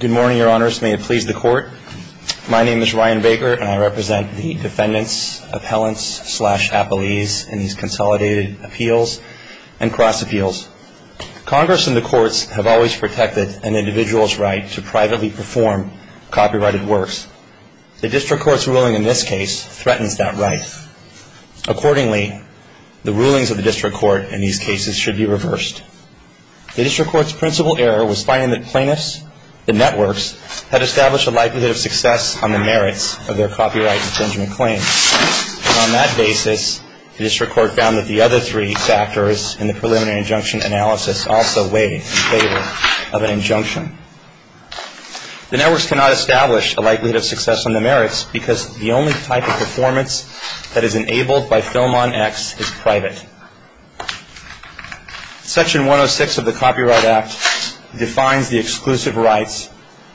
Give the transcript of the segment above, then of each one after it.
Good morning, Your Honors. May it please the Court. My name is Ryan Baker and I represent the defendants, appellants, slash appellees in these consolidated appeals and cross-appeals. Congress and the courts have always protected an individual's right to privately perform copyrighted works. The District Court's ruling in this case threatens that right. Accordingly, the rulings of the District Court in these cases should be reversed. The District Court's plaintiffs, the networks, had established a likelihood of success on the merits of their copyright infringement claims. And on that basis, the District Court found that the other three factors in the preliminary injunction analysis also weighed in favor of an injunction. The networks cannot establish a likelihood of success on the merits because the only type of performance that is enabled by FilmOn X is private. Section 106 of the Copyright Rights Act defines the exclusive rights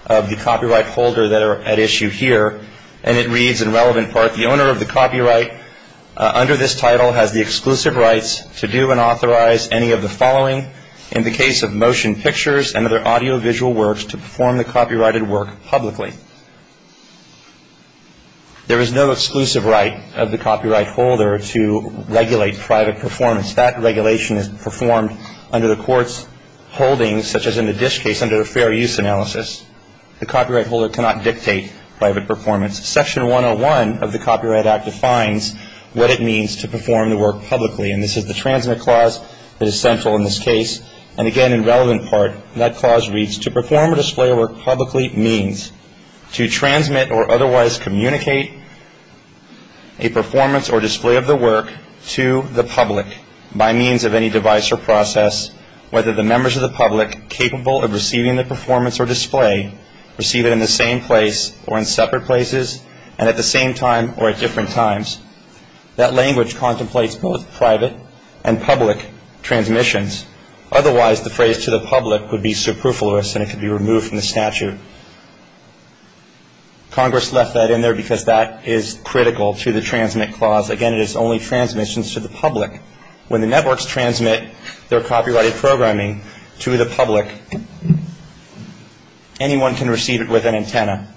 of the copyright holder that are at issue here. And it reads, in relevant part, the owner of the copyright under this title has the exclusive rights to do and authorize any of the following in the case of motion pictures and other audiovisual works to perform the copyrighted work publicly. There is no exclusive right of the copyright holder to regulate private performance. That regulation is performed under the court's holdings, such as in the Dish case, under a fair use analysis. The copyright holder cannot dictate private performance. Section 101 of the Copyright Act defines what it means to perform the work publicly. And this is the transmit clause that is central in this case. And again, in relevant part, that clause reads, to perform or display a work publicly means to transmit or otherwise communicate a performance or display of the work to the public by means of any device or process, whether the members of the public capable of receiving the performance or display receive it in the same place or in separate places and at the same time or at different times. That language contemplates both private and public transmissions. Otherwise, the phrase to the public would be superfluous and it could be removed from the statute. Congress left that in there because that is critical to the transmit clause. Again, it is only transmissions to the public. When the networks transmit their copyrighted programming to the public, anyone can receive it with an antenna.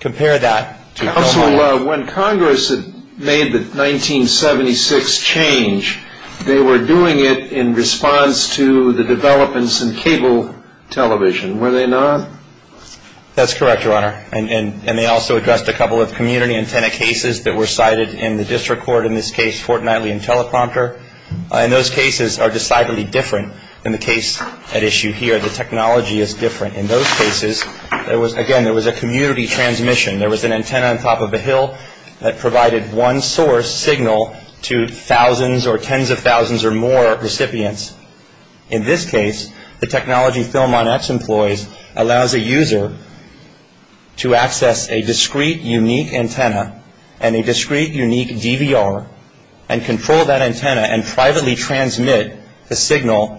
Compare that to public. Counsel, when Congress had made the 1976 change, they were doing it in response to the developments in cable television, were they not? That's correct, Your Honor. And they also addressed a couple of community antenna cases that were cited in the district court, in this case Fort Knightly and Teleprompter. And those cases are decidedly different than the case at issue here. The technology is different. In those cases, again, there was a community transmission. There was an antenna on top of a hill that provided one source signal to thousands or tens of thousands or more recipients. In this case, the technology Phil Monette employs allows a user to access a discreet, unique antenna and a discreet, unique DVR and control that antenna and privately transmit the signal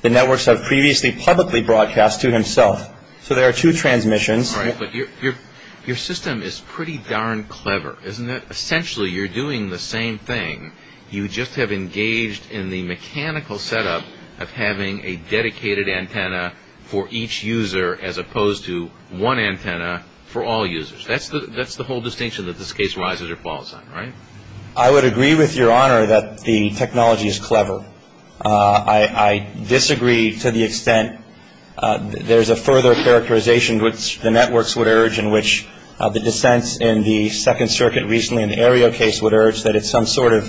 the networks have previously publicly broadcast to himself. So there are two transmissions. All right, but your system is pretty darn clever, isn't it? Essentially, you're doing the same thing. You just have engaged in the mechanical setup of having a dedicated antenna for each user as opposed to one antenna for all users. That's the whole distinction that this case rises or falls on, right? I would agree with Your Honor that the technology is clever. I disagree to the extent there's a further characterization which the networks would urge and which the dissents in the Second that it's some sort of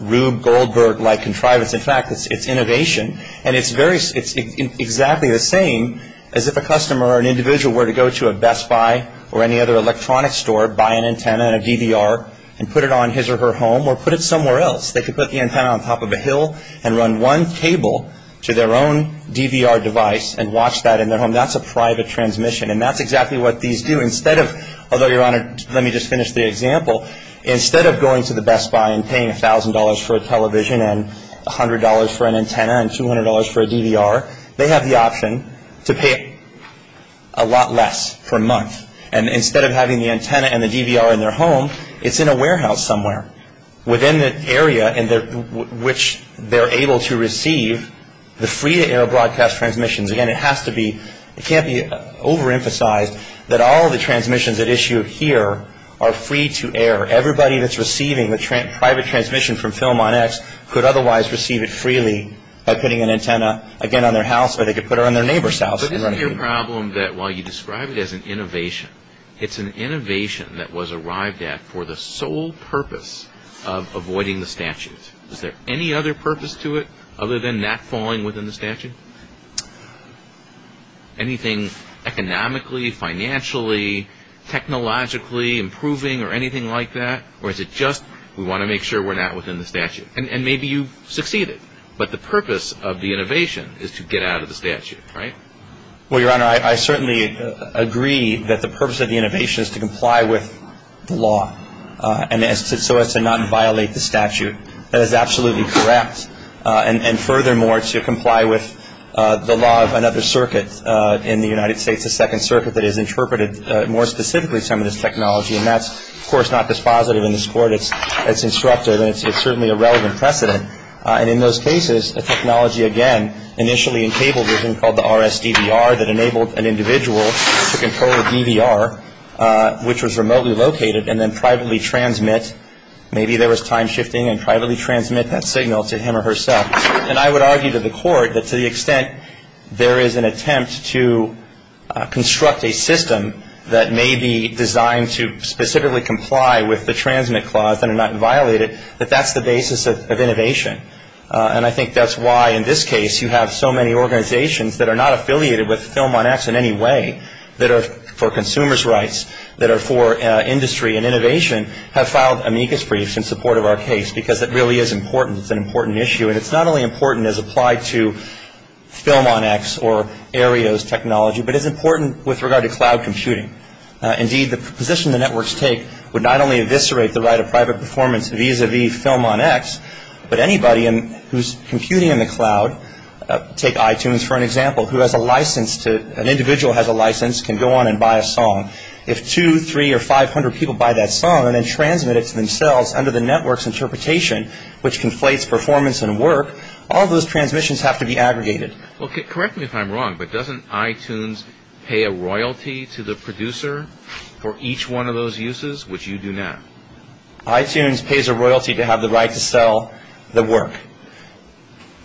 Rube Goldberg-like contrivance. In fact, it's innovation. And it's very, it's exactly the same as if a customer or an individual were to go to a Best Buy or any other electronic store, buy an antenna and a DVR and put it on his or her home or put it somewhere else. They could put the antenna on top of a hill and run one cable to their own DVR device and watch that in their home. That's a private transmission. And that's exactly what these do. Instead of, although Your Honor, let me just finish the example. Instead of going to the Best Buy and paying $1,000 for a television and $100 for an antenna and $200 for a DVR, they have the option to pay a lot less for a month. And instead of having the antenna and the DVR in their home, it's in a warehouse somewhere within the area in which they're able to receive the free-to-air broadcast transmissions. Again, it has to be, it can't be overemphasized that all of the transmissions at issue here are free-to-air. Everybody that's receiving a private transmission from Film On X could otherwise receive it freely by putting an antenna, again, on their house or they could put it on their neighbor's house and run a cable. But isn't your problem that while you describe it as an innovation, it's an innovation that was arrived at for the sole purpose of avoiding the statute? Is there any other purpose to it other than not falling within the statute? Anything economically, financially, technologically improving or anything like that? Or is it just we want to make sure we're not within the statute? And maybe you've succeeded, but the purpose of the innovation is to get out of the statute, right? Well, Your Honor, I certainly agree that the purpose of the innovation is to comply with the law and so as to not violate the statute. That is absolutely correct. And furthermore, to comply with the law of another circuit in the United States, a second circuit that has interpreted more specifically some of this technology. And that's, of course, not dispositive in this Court. It's disruptive and it's certainly a relevant precedent. And in those cases, the technology, again, initially in cable vision called the RSDVR that enabled an individual to control a DVR which was remotely located and then privately transmit, maybe there was time shifting, and privately transmit that signal to him or herself. And I would argue to the Court that to the extent there is an attempt to construct a system that may be designed to specifically comply with the transmit clause and not violate it, that that's the basis of innovation. And I think that's why in this case you have so many organizations that are not affiliated with Film on X in any way, that are for consumers' rights, that are for industry and innovation, have filed amicus briefs in support of our issue. And it's not only important as applied to Film on X or ARIOS technology, but it's important with regard to cloud computing. Indeed, the position the networks take would not only eviscerate the right of private performance vis-a-vis Film on X, but anybody who's computing in the cloud, take iTunes for an example, who has a license to, an individual has a license, can go on and buy a song. If two, three, or five hundred people buy that song and then transmit it to themselves under the network's interpretation, which conflates performance and work, all those transmissions have to be aggregated. Well, correct me if I'm wrong, but doesn't iTunes pay a royalty to the producer for each one of those uses, which you do not? iTunes pays a royalty to have the right to sell the work.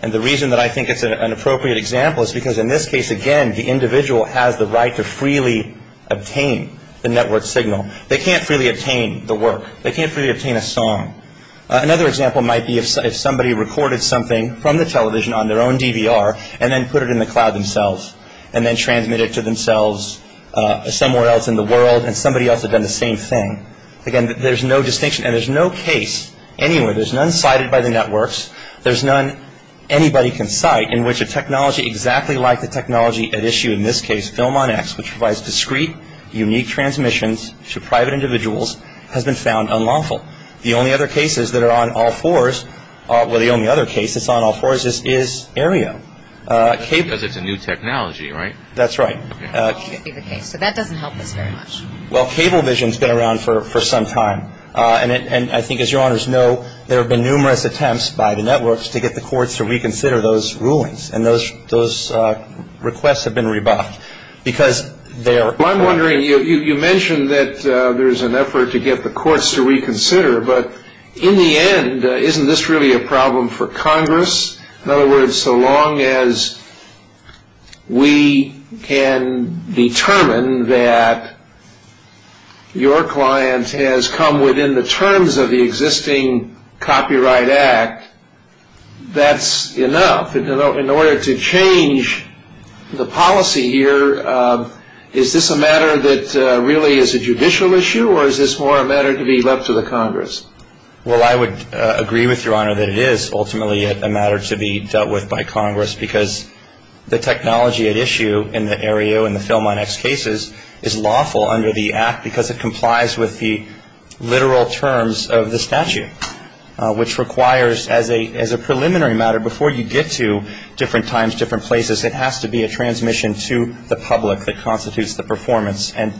And the reason that I think it's an appropriate example is because in this case, again, the individual has the right to freely obtain the network signal. They can't freely obtain the work. They can't freely somebody recorded something from the television on their own DVR and then put it in the cloud themselves and then transmit it to themselves somewhere else in the world and somebody else had done the same thing. Again, there's no distinction and there's no case anywhere. There's none cited by the networks. There's none anybody can cite in which a technology exactly like the technology at issue in this case, Film on X, which provides discrete, unique transmissions to private Well, the only other case that's on all fours is Aereo. Because it's a new technology, right? That's right. So that doesn't help us very much. Well, cable vision's been around for some time. And I think, as your honors know, there have been numerous attempts by the networks to get the courts to reconsider those rulings. And those requests have been rebuffed because they are Well, I'm wondering, you mentioned that there's an effort to get the courts to reconsider, but in the end, isn't this really a problem for Congress? In other words, so long as we can determine that your client has come within the terms of the existing Copyright Act, that's enough. In order to change the policy here, is this a matter that really is a judicial issue, or is this more a matter to be left to the Congress? Well, I would agree with your honor that it is ultimately a matter to be dealt with by Congress because the technology at issue in the Aereo and the Film on X cases is lawful under the Act because it complies with the literal terms of the statute, which requires as a preliminary matter, before you get to different times, different places, it has to be a transmission to the public that constitutes the performance. And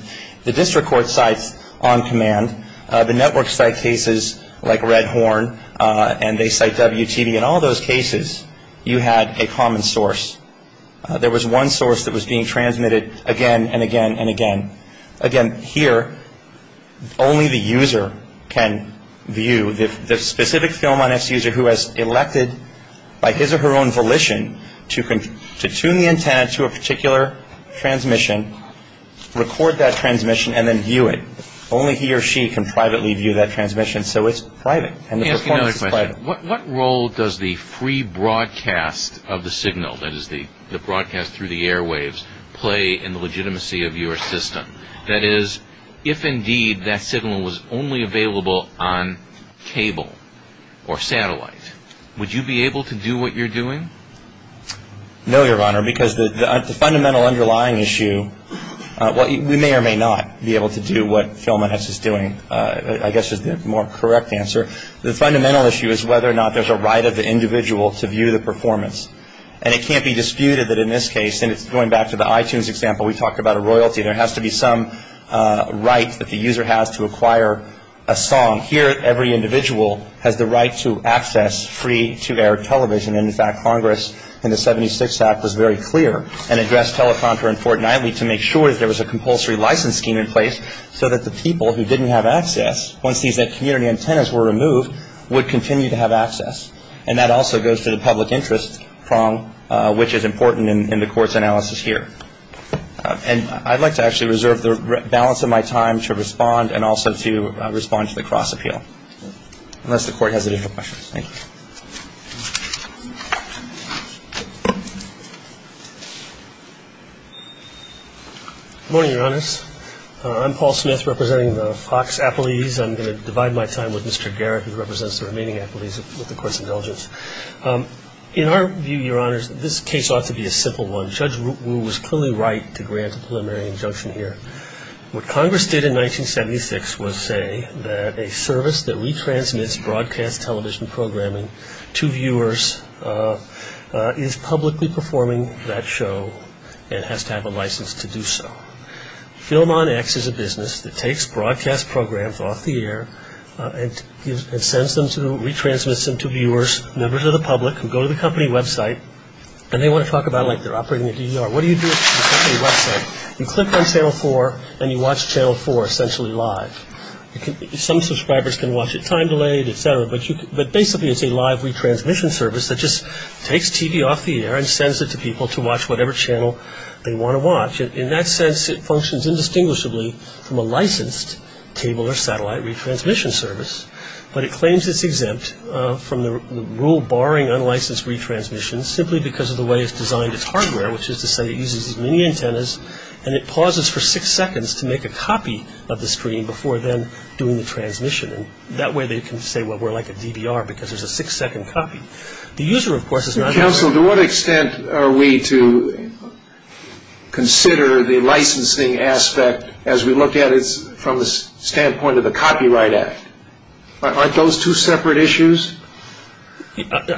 the district court sites on command, the network site cases like Red Horn, and they site WTV, in all those cases, you had a common source. There was one source that was being transmitted again and again and again. Again, here, only the user can view the specific Film on X user who has elected by his or her own volition to tune the antenna to a particular transmission, record that transmission, and then view it. Only he or she can privately view that transmission, so it's private. Let me ask you another question. What role does the free broadcast of the signal, that is the broadcast through the airwaves, play in the legitimacy of your system? That is, if indeed that signal was only available on cable or satellite, would you be able to do what you're doing? No, Your Honor, because the fundamental underlying issue, we may or may not be able to do what Film on X is doing, I guess is the more correct answer. The fundamental issue is whether or not there's a right of the individual to view the performance. And it can't be disputed that in this case, and it's going back to the iTunes example, we talked about a royalty, there has to be some right that the user has to acquire a song. Here, every individual has the right to access free-to-air television. In fact, Congress in the 76 Act was very clear and addressed teleprompter in Fort Knightley to make sure that there was a compulsory license scheme in place so that the people who didn't have access, once these net community antennas were removed, would continue to have access. And that also goes to the public interest prong, which is important in the Court's analysis here. And I'd like to actually reserve the balance of my time to respond and also to respond to the cross-appeal, unless the Court has additional questions. Thank you. Good morning, Your Honors. I'm Paul Smith, representing the Fox apologies. I'm going to divide my time with Mr. Garrett, who represents the remaining apologies with the Court's indulgence. In our view, Your Honors, this case ought to be a simple one. Judge Wu was clearly right to grant a preliminary injunction here. What Congress did in 1976 was say that a service that retransmits broadcast television programming to viewers is publicly performing that show and has to have a license to do so. Film on X is a business that takes broadcast programs off the air and sends them to, retransmits them to viewers, members of the public, who go to the company website, and they want to talk about, like, they're operating a DER. What do you do at the company website? You click on Channel 4, and you watch Channel 4, essentially live. Some subscribers can watch it time-delayed, et cetera, but basically it's a live retransmission service that just takes TV off the air and sends it to people to watch whatever channel they want to watch. In that sense, it functions indistinguishably from a licensed table or satellite retransmission service, but it claims it's exempt from the rule barring unlicensed retransmissions simply because of the way it's designed its hardware, which is to say it uses these mini-antennas, and it pauses for six seconds to make a copy of the screen before then doing the transmission. And that way they can say, well, we're like a DER because there's a six-second copy. The user, of course, is not exempt. Counsel, to what extent are we to consider the licensing aspect as we look at it from the standpoint of the Copyright Act? Aren't those two separate issues?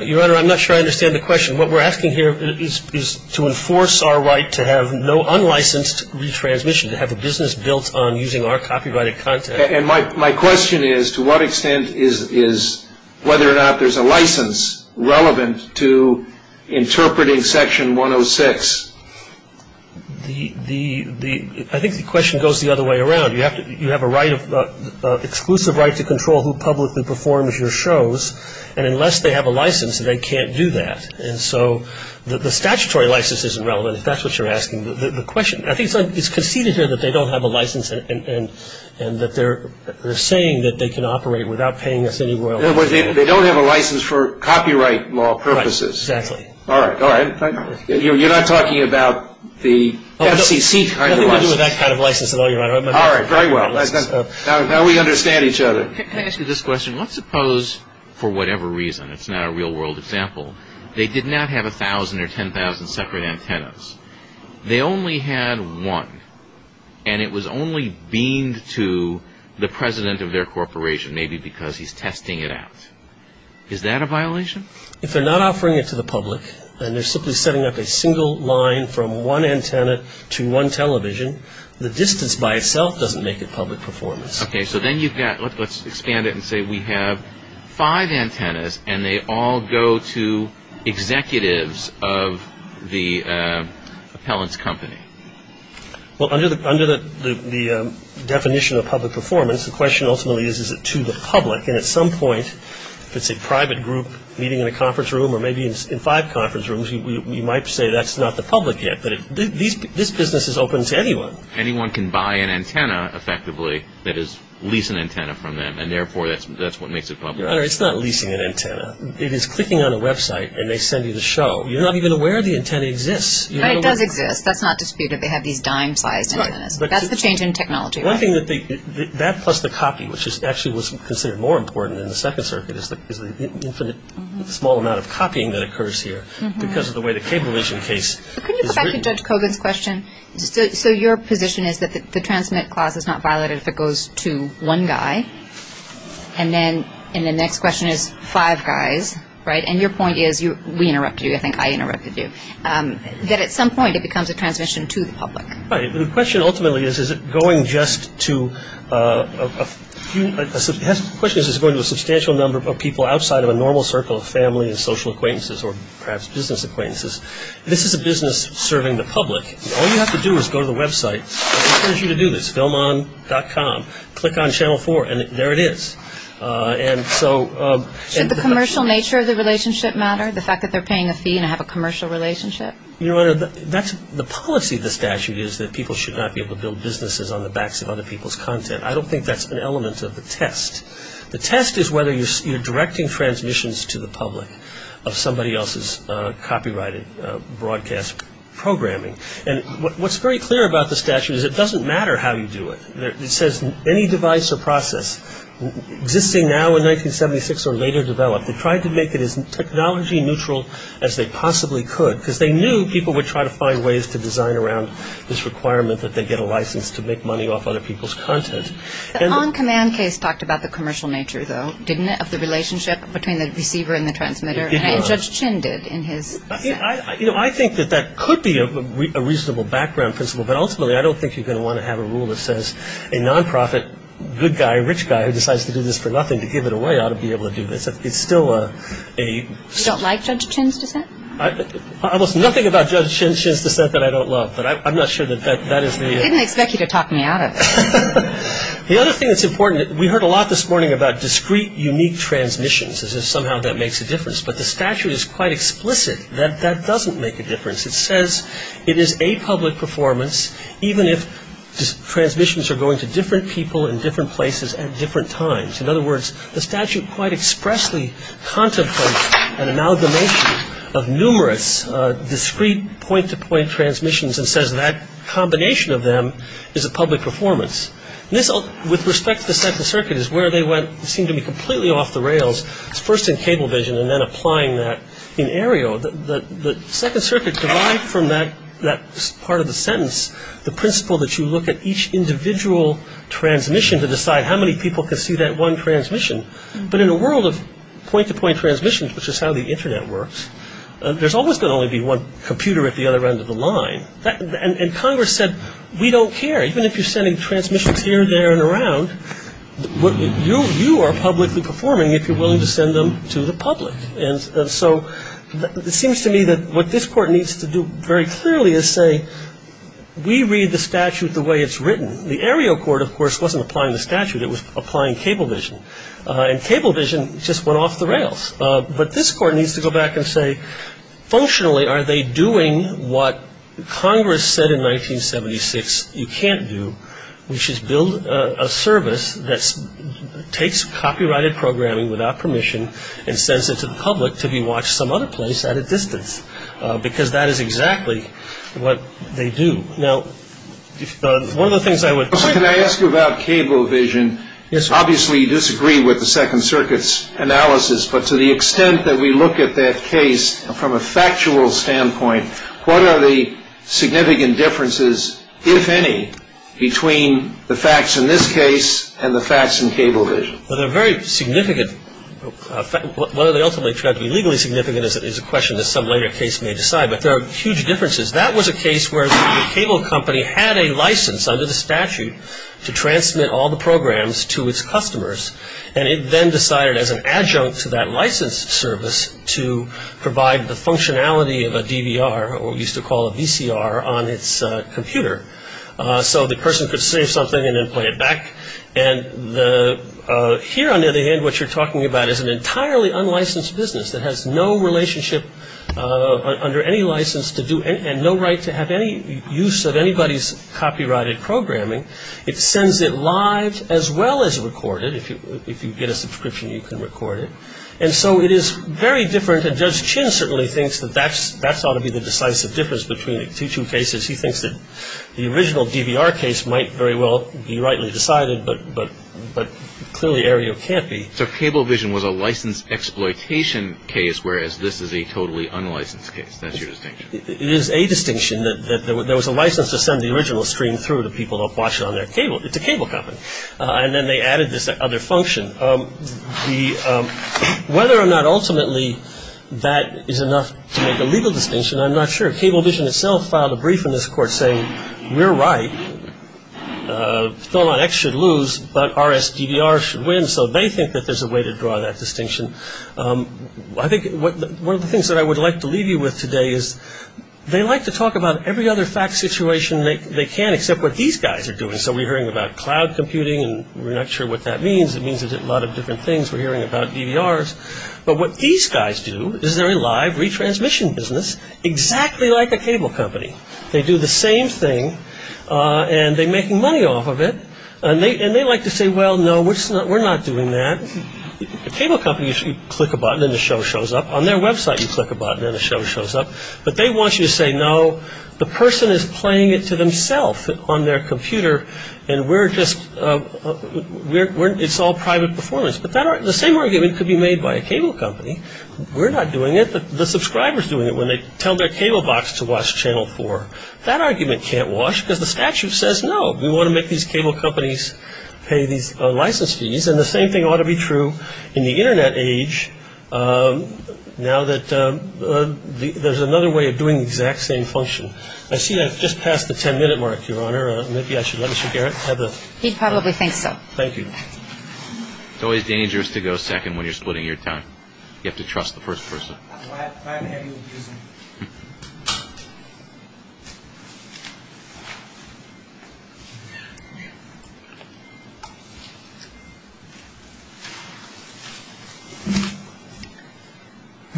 Your Honor, I'm not sure I understand the question. What we're asking here is to enforce our right to have no unlicensed retransmission, to have a business built on using our copyrighted content. And my question is, to what extent is whether or not there's a license relevant to interpreting Section 106? The, the, the, I think the question goes the other way around. You have to, you have a right of, exclusive right to control who publicly performs your shows. And unless they have a license, they can't do that. And so the statutory license isn't relevant, if that's what you're asking. The question, I think it's conceded here that they don't have a license and, and, and that they're, they're saying that they can operate without paying us any royalty. They don't have a license for copyright law purposes. Right, exactly. All right, all right. You're not talking about the FCC kind of license? Nothing to do with that kind of license at all, Your Honor. All right, very well. Now, now we understand each other. Can I ask you this question? Let's suppose, for whatever reason, it's not a real world example, they did not have a thousand or ten thousand separate antennas. They only had one. And it was only beamed to the president of their corporation, maybe because he's testing it out. Is that a violation? If they're not offering it to the public, and they're simply setting up a single line from one antenna to one television, the distance by itself doesn't make it public performance. Okay, so then you've got, let's expand it and say we have five antennas, and they all go to executives of the appellant's company. Well, under the, under the, the definition of public performance, the question ultimately is, is it to the public? And at some point, if it's a private group meeting in a conference room, you might say that's not the public yet. But this business is open to anyone. Anyone can buy an antenna, effectively, that is, lease an antenna from them. And therefore, that's what makes it public. Your Honor, it's not leasing an antenna. It is clicking on a website, and they send you the show. You're not even aware the antenna exists. But it does exist. That's not disputed. They have these dime-sized antennas. Right. That's the change in technology. One thing that they, that plus the copy, which is actually what's considered more important in the Second Circuit is the, is the infinite, small amount of copying that occurs here because of the way the cable vision case is written. Could you go back to Judge Kogan's question? So, so your position is that the, the transmit clause is not violated if it goes to one guy? And then, and the next question is five guys, right? And your point is, you, we interrupted you. I think I interrupted you. That at some point, it becomes a transmission to the public. Right. The question ultimately is, is it going just to a, a, a, a, a, a, a, a, a, a, a, a, a, a, a, a, a, a, a, b, a, b, a, b, a, b, a, b, b, a, b, a, b, b, b, b, b, b, b, b, b, b, b, b, b. There is a substantial number of people outside of a normal circle of family and social acquaintances or perhaps business acquaintances. This is a business serving the public. All you have to do is go to the website. I encourage you to do this, FilmOn.com, click on Channel 4 and there it is. And so, and the Should the commercial nature of the relationship matter? The fact that they're paying a fee and have a commercial relationship? Your Honor, that's, the policy of the statute is that people should not be able to build businesses on the backs of other people's content. I don't think that's an element of the test. The test is whether you're, you're directing transmissions to the public of somebody else's copyrighted broadcast programming. And what, what's very clear about the statute is it doesn't matter how you do it. It says any device or process existing now in 1976 or later developed, they tried to make it as technology neutral as they possibly could, because they knew people would try to find ways to design around this requirement that they get a license to make money off other people's content. The on-command case talked about the commercial nature, though, didn't it, of the relationship between the receiver and the transmitter? It did, Your Honor. And Judge Chin did in his... I, you know, I think that that could be a reasonable background principle, but ultimately I don't think you're going to want to have a rule that says a non-profit good guy, rich guy who decides to do this for nothing, to give it away, ought to be able to do this. It's still a... You don't like Judge Chin's dissent? Almost nothing about Judge Chin's dissent that I don't love, but I'm not sure that that is the... I didn't expect you to talk me out of it. The other thing that's important, we heard a lot this morning about discrete, unique transmissions, as if somehow that makes a difference. But the statute is quite explicit that that doesn't make a difference. It says it is a public performance, even if transmissions are going to different people in different places at different times. In other words, the statute quite expressly contemplates an amalgamation of numerous discrete point-to-point transmissions and says that combination of them is a public performance. This, with respect to the Second Circuit, is where they went, seemed to be completely off the rails. It's first in Cablevision and then applying that in Aereo. The Second Circuit derived from that part of the sentence the principle that you look at each individual transmission to decide how many people can see that one transmission. But in a world of point-to-point transmissions, which is how the Internet works, there's always going to be one computer at the other end of the line. And Congress said, we don't care. Even if you're sending transmissions here, there, and around, you are publicly performing if you're willing to send them to the public. And so it seems to me that what this Court needs to do very clearly is say, we read the statute. It was applying Cablevision. And Cablevision just went off the rails. But this Court needs to go back and say, functionally, are they doing what Congress said in 1976 you can't do, which is build a service that takes copyrighted programming without permission and sends it to the public to be watched some other place at a distance, because that is exactly what they do. Now, one of the things I would... So can I ask you about Cablevision? Yes, sir. Obviously you disagree with the Second Circuit's analysis, but to the extent that we look at that case from a factual standpoint, what are the significant differences, if any, between the facts in this case and the facts in Cablevision? Well, they're very significant. What they ultimately tried to be legally significant is a question that some later case may decide. But there are huge differences. That was a case where a cable company had a license under the statute to transmit all the programs to its customers. And it then decided as an adjunct to that license service to provide the functionality of a DVR, or what we used to call a VCR, on its computer. So the person could save something and then play it back. And here, on the other hand, what you're talking about is an entirely unlicensed business that has no relationship under any license to do... and no right to have any use of anybody's copyrighted programming. It sends it live as well as record it. If you get a subscription, you can record it. And so it is very different. And Judge Chin certainly thinks that that ought to be the decisive difference between the two cases. He thinks that the original DVR case might very well be rightly decided, but clearly Aereo can't be. So Cablevision was a licensed exploitation case, whereas this is a totally unlicensed case. That's your distinction? It is a distinction. There was a license to send the original stream through to people to watch it on their cable. It's a cable company. And then they added this other function. Whether or not ultimately that is enough to make a legal distinction, I'm not sure. Cablevision itself filed a brief in this court saying, we're right. ThelonX should lose, but RSDVR should win. So they think that there's a way to draw that distinction. I think one of the things that I would like to leave you with today is they like to talk about every other fact situation they can, except what these guys are doing. So we're hearing about cloud computing, and we're not sure what that means. It means a lot of different things. We're hearing about DVRs. But what these guys do is they're a live retransmission business, exactly like a cable company. They do the same thing, and they're making money off of it. And they like to say, well, no, we're not doing that. A cable company is you click a button, and the show shows up. On their website, you click a button, and the show shows up. But they want you to say, no, the person is playing it to themselves on their computer, and we're just, it's all private performance. But the same argument could be made by a cable company. We're not doing it. The subscriber is doing it when they tell their cable box to watch Channel 4. That argument can't wash, because the statute says, no, we want to make these cable companies pay these license fees. And the same thing ought to be true in the Internet age, now that there's another way of doing the exact same function. I see I've just passed the ten-minute mark, Your Honor. Maybe I should let Mr. Garrett have the... He probably thinks so. Thank you. It's always dangerous to go second when you're splitting your time. You have to trust the first person.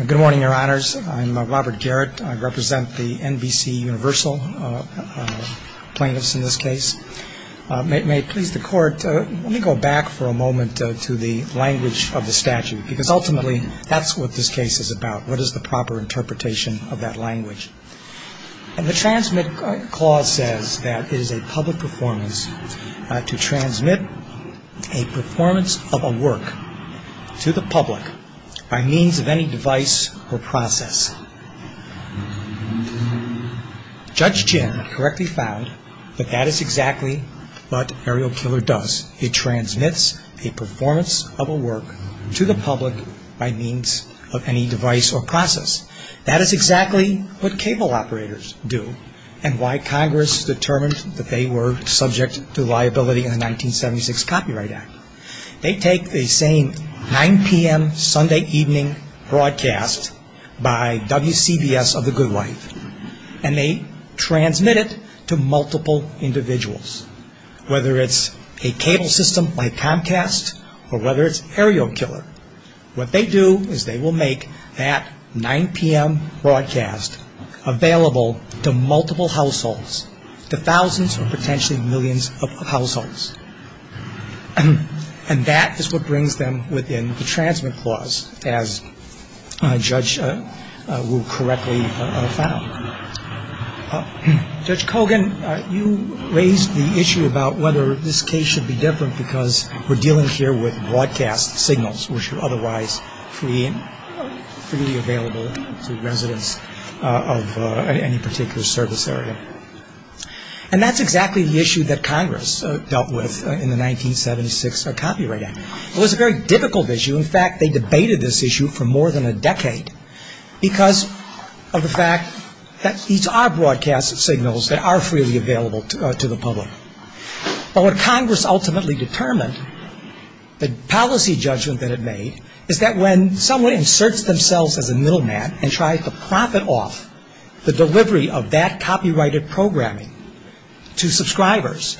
Good morning, Your Honors. I'm Robert Garrett. I represent the NBCUniversal plaintiffs in this case. May it please the Court, let me go back for a moment to the language of what is the proper interpretation of that language. And the transmit clause says that it is a public performance to transmit a performance of a work to the public by means of any device or process. Judge Ginn correctly found that that is exactly what Aerial Killer does. It That is exactly what cable operators do and why Congress determined that they were subject to liability in the 1976 Copyright Act. They take the same 9 p.m. Sunday evening broadcast by WCBS of the Good Life and they transmit it to multiple individuals, whether it's a 9 p.m. broadcast available to multiple households, to thousands or potentially millions of households. And that is what brings them within the transmit clause, as Judge Wu correctly found. Judge Kogan, you raised the issue about whether this case should be different because we're available to residents of any particular service area. And that's exactly the issue that Congress dealt with in the 1976 Copyright Act. It was a very difficult issue. In fact, they debated this issue for more than a decade because of the fact that these are broadcast signals that are freely available to the public. But what Congress ultimately determined, the to profit off the delivery of that copyrighted programming to subscribers.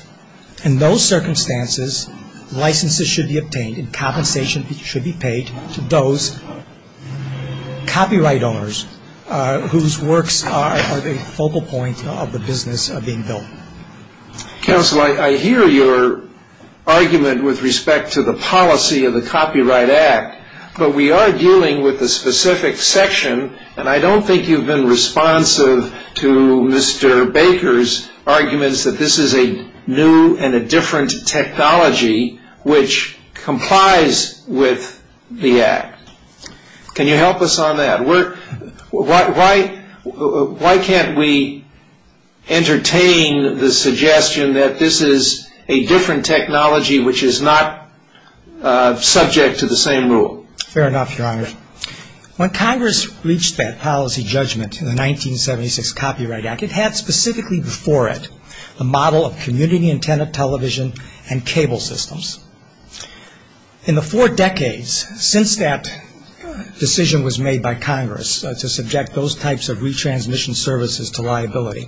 In those circumstances, licenses should be obtained and compensation should be paid to those copyright owners whose works are the focal point of the business being built. Counsel, I hear your argument with respect to the policy of the Copyright Act, but we are dealing with a specific section, and I don't think you've been responsive to Mr. Baker's arguments that this is a new and a different technology which complies with the Act. Can you help us on that? Why can't we entertain the suggestion that this is a different technology which is not subject to the same rule? Fair enough, Your Honor. When Congress reached that policy judgment in the 1976 Copyright Act, it had specifically before it a model of community antenna television and cable systems. In the four decades since that decision was made by Congress to subject those types of retransmission services to liability,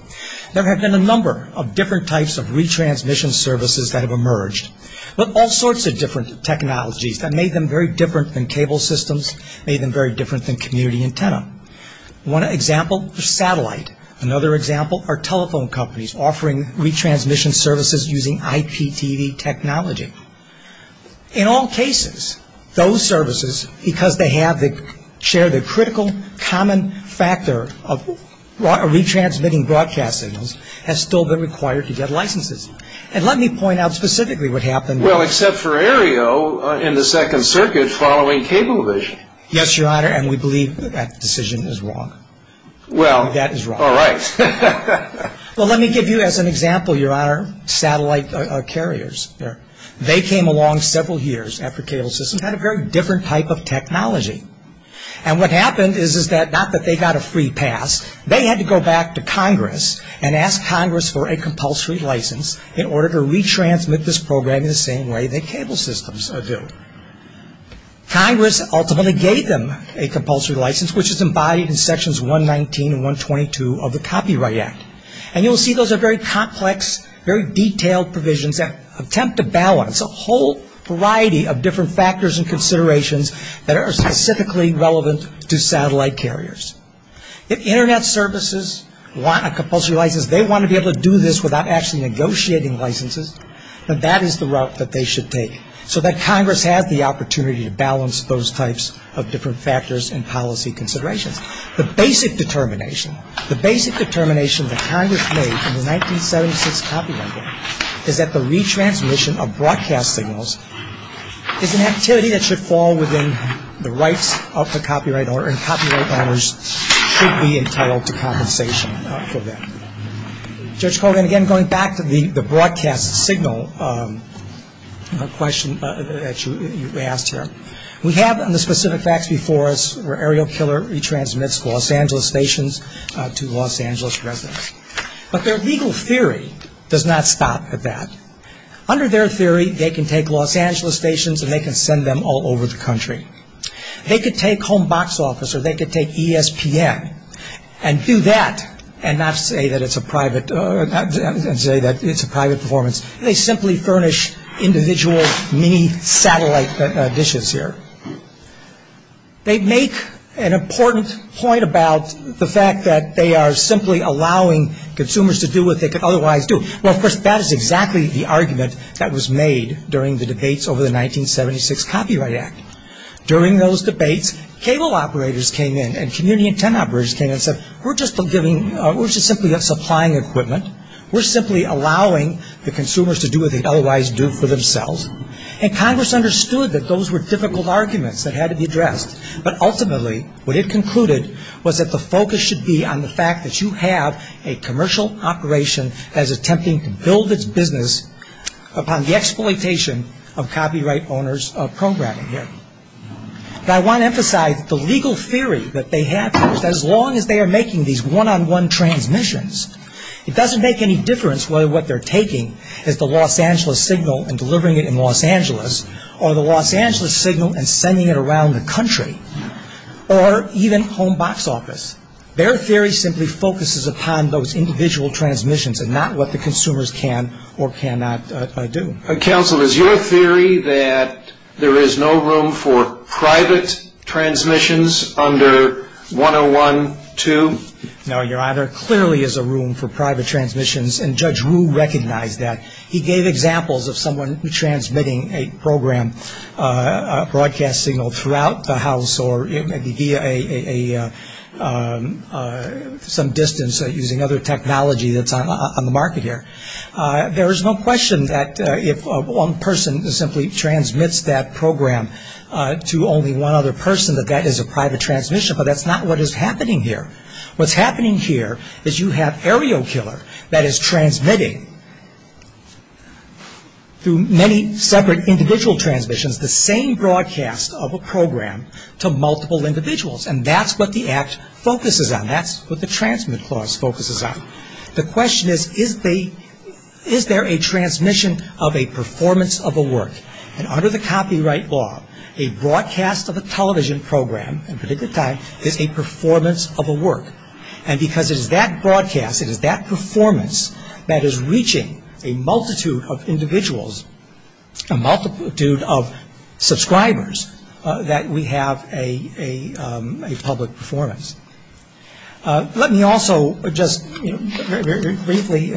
there have been a number of different types of retransmission services that have emerged with all sorts of different technologies that made them very different than cable systems, made them very different than community antenna. One example is satellite. Another example are telephone companies offering retransmission services using IPTV technology. In all cases, those services, because they share the critical common factor of retransmitting broadcast signals, have still been required to get licenses. And let me point out specifically what happened. Well, except for Aereo in the Second Circuit following cable vision. Yes, Your Honor, and we believe that decision is wrong. Well. That is wrong. All right. Well, let me give you as an example, Your Honor, satellite carriers. They came along several years after cable systems had a very different type of technology. And what happened is that not that they got a free pass, they had to go back to Congress and ask Congress for a compulsory license in order to retransmit this program in the same way that cable systems do. Congress ultimately gave them a compulsory license, which is embodied in Sections 119 and 122 of the Copyright Act. And you'll see those are very complex, very detailed provisions that attempt to balance a whole variety of different factors and considerations that are specifically relevant to satellite carriers. If Internet services want a compulsory license, they want to be able to do this without actually negotiating licenses, then that is the route that they should take so that Congress has the opportunity to balance those types of different factors and policy considerations. The basic determination, the basic determination that Congress made in the 1976 Copyright Act is that the retransmission of broadcast signals is an activity that should fall within the copyright owners, should be entitled to compensation for that. Judge Colgan, again, going back to the broadcast signal question that you asked here, we have on the specific facts before us where Aerokiller retransmits Los Angeles stations to Los Angeles residents. But their legal theory does not stop at that. Under their theory, they can take Los Angeles stations and they can send them all over the country. They could take a home box office or they could take ESPN and do that and not say that it's a private performance. They simply furnish individual mini-satellite dishes here. They make an important point about the fact that they are simply allowing consumers to do what they could otherwise do. Well, of course, that is exactly the argument that during those debates, cable operators came in and community intent operators came in and said, we're just giving, we're just simply supplying equipment. We're simply allowing the consumers to do what they'd otherwise do for themselves. And Congress understood that those were difficult arguments that had to be addressed. But ultimately, what it concluded was that the focus should be on the fact that you have a commercial operation that is attempting to build its business upon the exploitation of copyright owners programming it. I want to emphasize that the legal theory that they have here is that as long as they are making these one-on-one transmissions, it doesn't make any difference whether what they're taking is the Los Angeles signal and delivering it in Los Angeles or the Los Angeles signal and sending it around the country or even home box office. Their theory simply focuses upon those individual transmissions and not what the consumers can or cannot do. Counsel, is your theory that there is no room for private transmissions under 101.2? No, Your Honor. There clearly is a room for private transmissions, and Judge Rue recognized that. He gave examples of someone transmitting a program, a broadcast signal, throughout the house or maybe via some distance using other technology that's on the market here. There is no question that if one person simply transmits that program to only one other person, that that is a private transmission. But that's not what is happening here. What's happening here is you have Aerokiller that is transmitting through many separate individual transmissions the same broadcast of a program to multiple individuals. And that's what the Act focuses on. That's what the Transmit Clause focuses on. The question is, is there a transmission of a performance of a work? And under the copyright law, a broadcast of a television program at a particular time is a performance of a work. And because it is that broadcast, it is that performance that is reaching a multitude of individuals, a multitude of subscribers, that we have a public performance. Let me also just briefly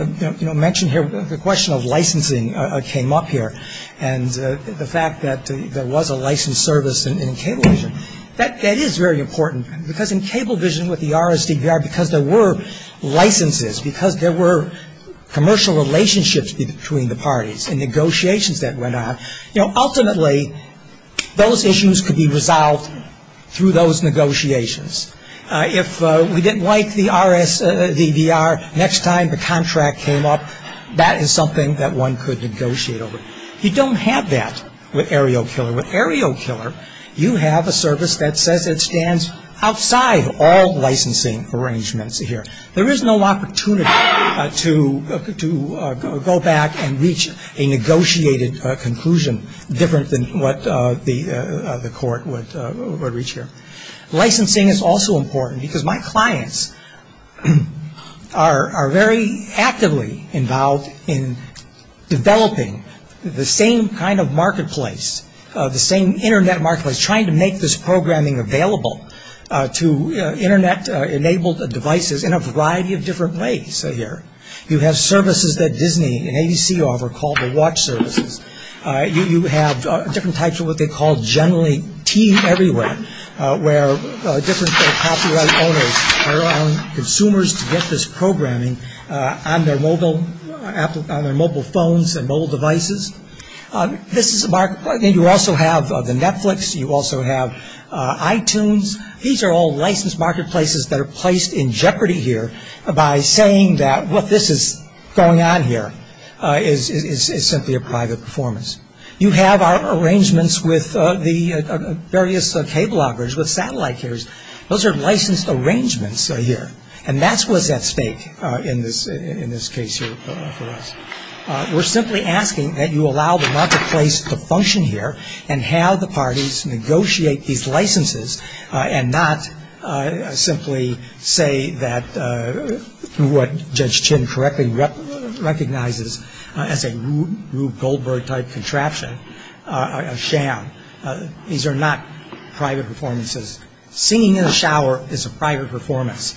mention here the question of licensing came up here. And the fact that there was a licensed service in cable vision, that is very important. Because in cable vision with the RSDVR, because there were licenses, because there were commercial relationships between the parties and negotiations that went on, you know, ultimately those issues could be resolved through those negotiations. If we didn't like the RSDVR, next time the contract came up, that is something that one could negotiate over. You don't have that with Aerokiller. With Aerokiller, you have a service that says it stands outside all licensing arrangements here. There is no opportunity to go back and reach a negotiated conclusion different than what the court would reach here. Licensing is also important because my clients are very actively involved in developing the same kind of marketplace, the same Internet marketplace, trying to make this programming available to Internet enabled devices in a variety of different ways here. You have services that Disney and ABC offer called the watch services. You have different types of what they call generally teen everywhere, where different copyright owners are allowing consumers to get this programming on their mobile phones and mobile devices. This is a marketplace. You also have the Netflix. You also have iTunes. These are all licensed marketplaces that are placed in jeopardy here by saying that what this is going on here is simply a private performance. You have our arrangements with the various cable operators with satellite carriers. Those are licensed arrangements here. And that's what's at stake in this case here for us. We're simply asking that you allow the marketplace to function here and have the parties negotiate these licenses and not simply say that what Judge Chin correctly recognizes as a Rube Goldberg type contraption are a sham. These are not private performances. Singing in the shower is a private performance.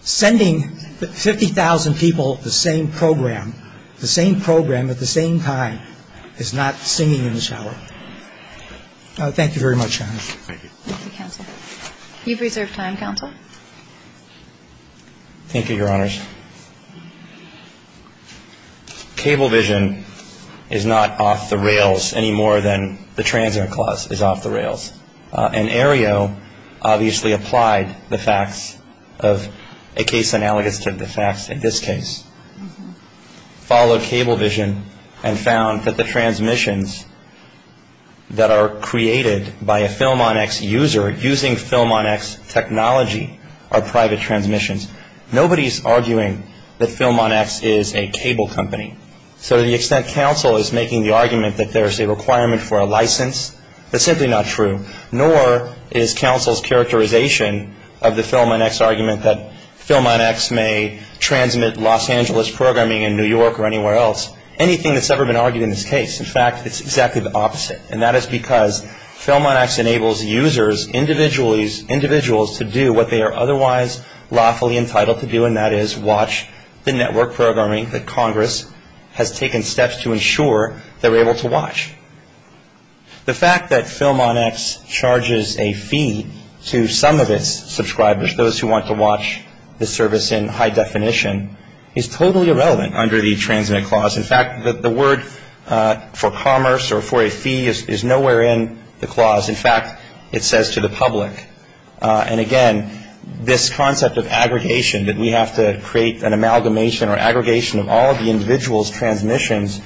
Sending 50,000 people the same program, the same program at the same time is not singing in the shower. Thank you very much, Your Honor. Thank you. Thank you, Counsel. You've reserved time, Counsel. Thank you, Your Honors. CableVision is not off the rails any more than the Transit Clause is off the rails. And Aereo obviously applied the facts of a case analogous to the facts in this case. Followed CableVision and found that the transmissions that are created by a FilmOnX user using FilmOnX technology are private transmissions. Nobody's arguing that FilmOnX is a cable company. So to the extent Counsel is making the argument that there's a requirement for a license, that's simply not true. Nor is Counsel's characterization of the FilmOnX argument that FilmOnX may transmit Los Angeles programming in New York or anywhere else, anything that's ever been argued in this case. In fact, it's exactly the opposite. And that is because FilmOnX enables users, individuals to do what they are otherwise lawfully entitled to do, and that is watch the network programming that Congress has taken steps to ensure they're able to watch. The fact that FilmOnX charges a fee to some of its subscribers, those who want to watch the service in high definition, is totally irrelevant under the Transmit Clause. In fact, the word for commerce or for a fee is nowhere in the clause. In fact, it says to the public. And again, this concept of aggregation, that we have to create an amalgamation or aggregation of all of the individual's transmissions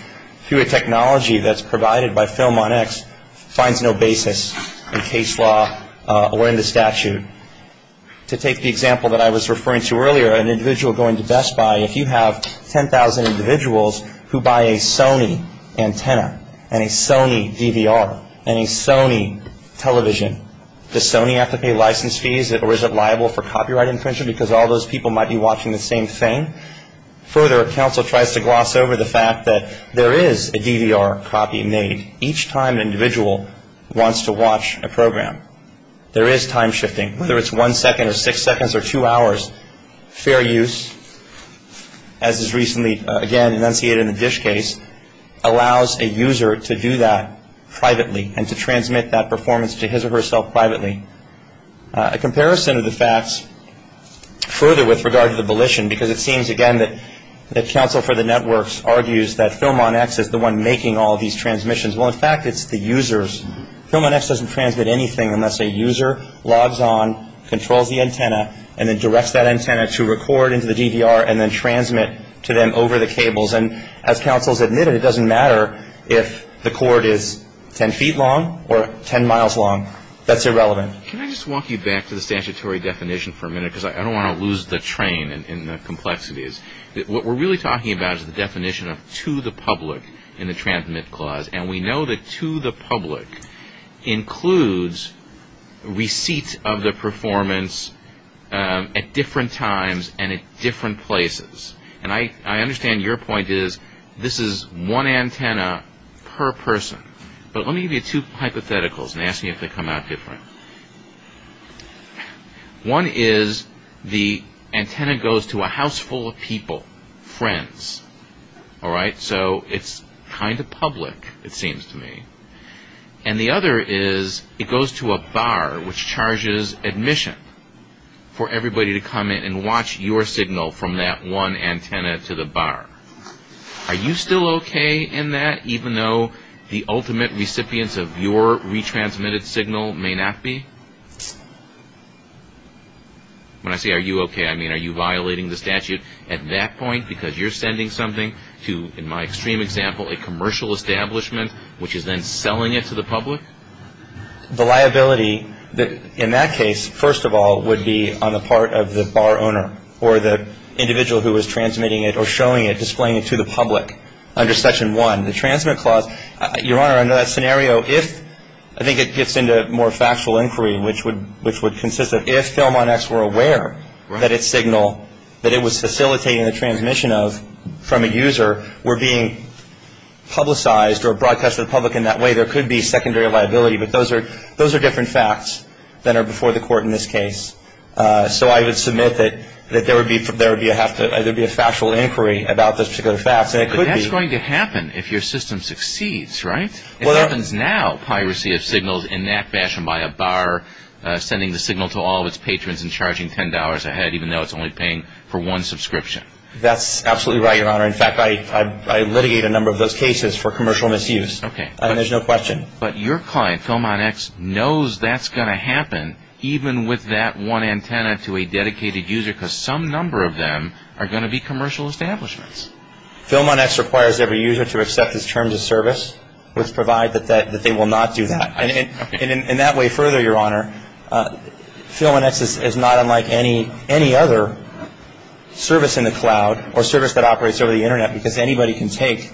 through a technology that's provided by FilmOnX, finds no basis in case law or in the statute. To take the example that I was referring to earlier, an individual going to Best Buy, if you have 10,000 individuals who buy a Sony antenna and a Sony DVR and a Sony television, does Sony have to pay license fees or is it liable for copyright infringement because all those people might be watching the same thing? Further, counsel tries to gloss over the fact that there is a DVR copy made each time an individual wants to watch a program. There is time shifting. Whether it's one second or six seconds or two hours, fair use, as is recently, again, enunciated in the DISH case, allows a user to do that privately and to transmit that performance to his or herself privately. A comparison of the facts further with regard to the volition, because it seems again that the counsel for the networks argues that FilmOnX is the one making all of these transmissions. Well, in fact, it's the users. FilmOnX doesn't transmit anything unless a user logs on, controls the antenna, and then directs that antenna to record into the DVR and then transmit to them over the cables. And as counsel has admitted, it doesn't matter if the cord is 10 feet long or 10 miles long. That's irrelevant. Can I just walk you back to the statutory definition for a minute because I don't want to lose the train in the complexities. What we're really talking about is the definition of to the public in the transmit clause. And we know that to the public includes receipt of the performance at different times and at different places. And I understand your point is this is one antenna per person. But let me give you two hypotheticals and ask you if they come out different. One is the antenna goes to a house full of people, friends. All right? So it's kind of public, it seems to me. And the other is it goes to a bar which charges admission for everybody to come in and watch your signal from that one antenna to the bar. Are you still okay in that even though the ultimate recipients of your retransmitted signal may not be? When I say are you okay, I mean are you violating the statute at that point because you're sending something to, in my extreme example, a commercial establishment which is then selling it to the public? The liability in that case, first of all, would be on the part of the bar owner or the individual who is transmitting it or showing it, displaying it to the public under Section 1. The transmit clause, Your Honor, under that scenario, if I think it gets into more factual inquiry which would consist of if Philmon X were aware that its signal, that it was facilitating the transmission of from a user, were being publicized or broadcast to the public in that way, there could be secondary liability. But those are different facts that are before the court in this case. So I would submit that there would be a factual inquiry about those particular facts and it could be But that's going to happen if your system succeeds, right? It happens now, piracy of signals in that fashion by a bar sending the signal to all of its patrons and charging $10 a head even though it's only paying for one subscription. That's absolutely right, Your Honor. In fact, I litigate a number of those cases for commercial misuse. There's no question. But your client, Philmon X, knows that's going to happen even with that one antenna to a dedicated user because some number of them are going to be commercial establishments. Philmon X requires every user to accept his terms of service which provide that they will not do that. And in that way further, Your Honor, Philmon X is not unlike any other service in the cloud or service that operates over the Internet because anybody can take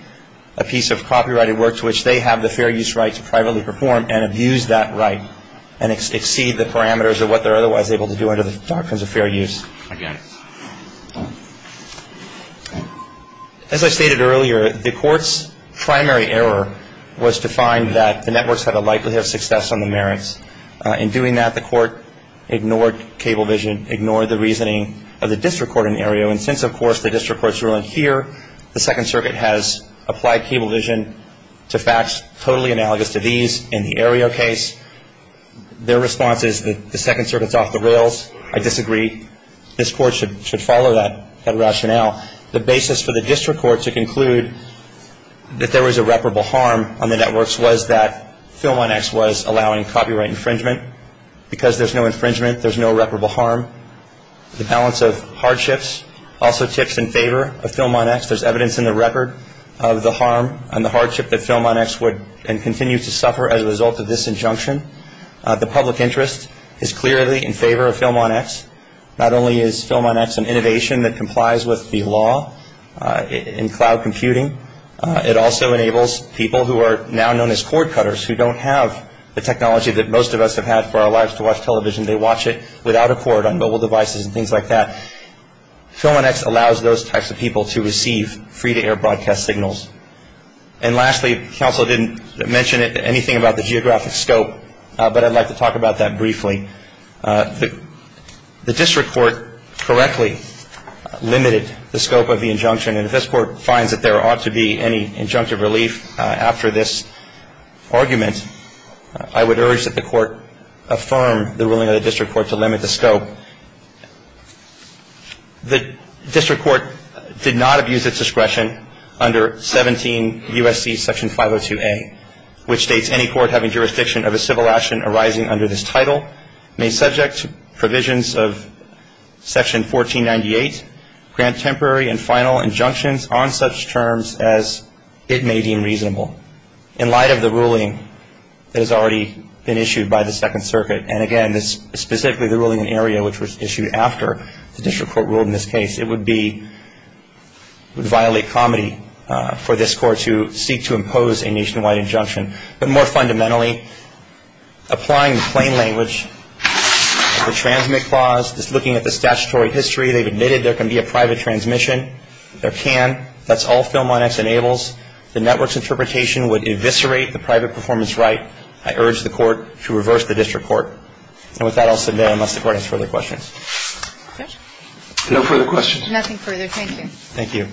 a piece of copyrighted work to which they have the fair use right to privately perform and abuse that right and exceed the parameters of what they're otherwise able to do under the doctrines of fair use. Again. As I stated earlier, the court's primary error was to find that the networks had a likelihood of success on the merits. In doing that, the court ignored cable vision, ignored the reasoning of the district court in Aereo. And since, of course, the district court's ruling here, the Second Circuit has applied cable vision to facts totally analogous to these in the Aereo case. Their response is that the Second Circuit's off the rails. I should follow that rationale. The basis for the district court to conclude that there was irreparable harm on the networks was that Philmon X was allowing copyright infringement. Because there's no infringement, there's no irreparable harm. The balance of hardships also tips in favor of Philmon X. There's evidence in the record of the harm and the hardship that Philmon X would continue to suffer as a result of this injunction. The public interest is clearly in favor of Philmon X and innovation that complies with the law in cloud computing. It also enables people who are now known as cord cutters who don't have the technology that most of us have had for our lives to watch television. They watch it without a cord on mobile devices and things like that. Philmon X allows those types of people to receive free-to-air broadcast signals. And lastly, counsel didn't mention anything about the geographic scope, but I'd like to The district court did not abuse its discretion under 17 U.S.C. section 502A, which dates any court having jurisdiction of a civil action arising under this title may subject to provisions of section 1498, grant temporary and final injunctions on such terms as it may deem reasonable. In light of the ruling that has already been issued by the second circuit, and again, specifically the ruling in area which was issued after the district court ruled in this case, it would be, would violate comedy for this court to seek to impose a nationwide injunction. But more fundamentally, applying the plain language of the transmit clause, just looking at the statutory history, they've admitted there can be a private transmission. There can. That's all Philmon X enables. The network's interpretation would eviscerate the private performance right. I urge the court to reverse the district court. And with that I'll submit unless the court has further questions. No further questions. Nothing further. Thank you.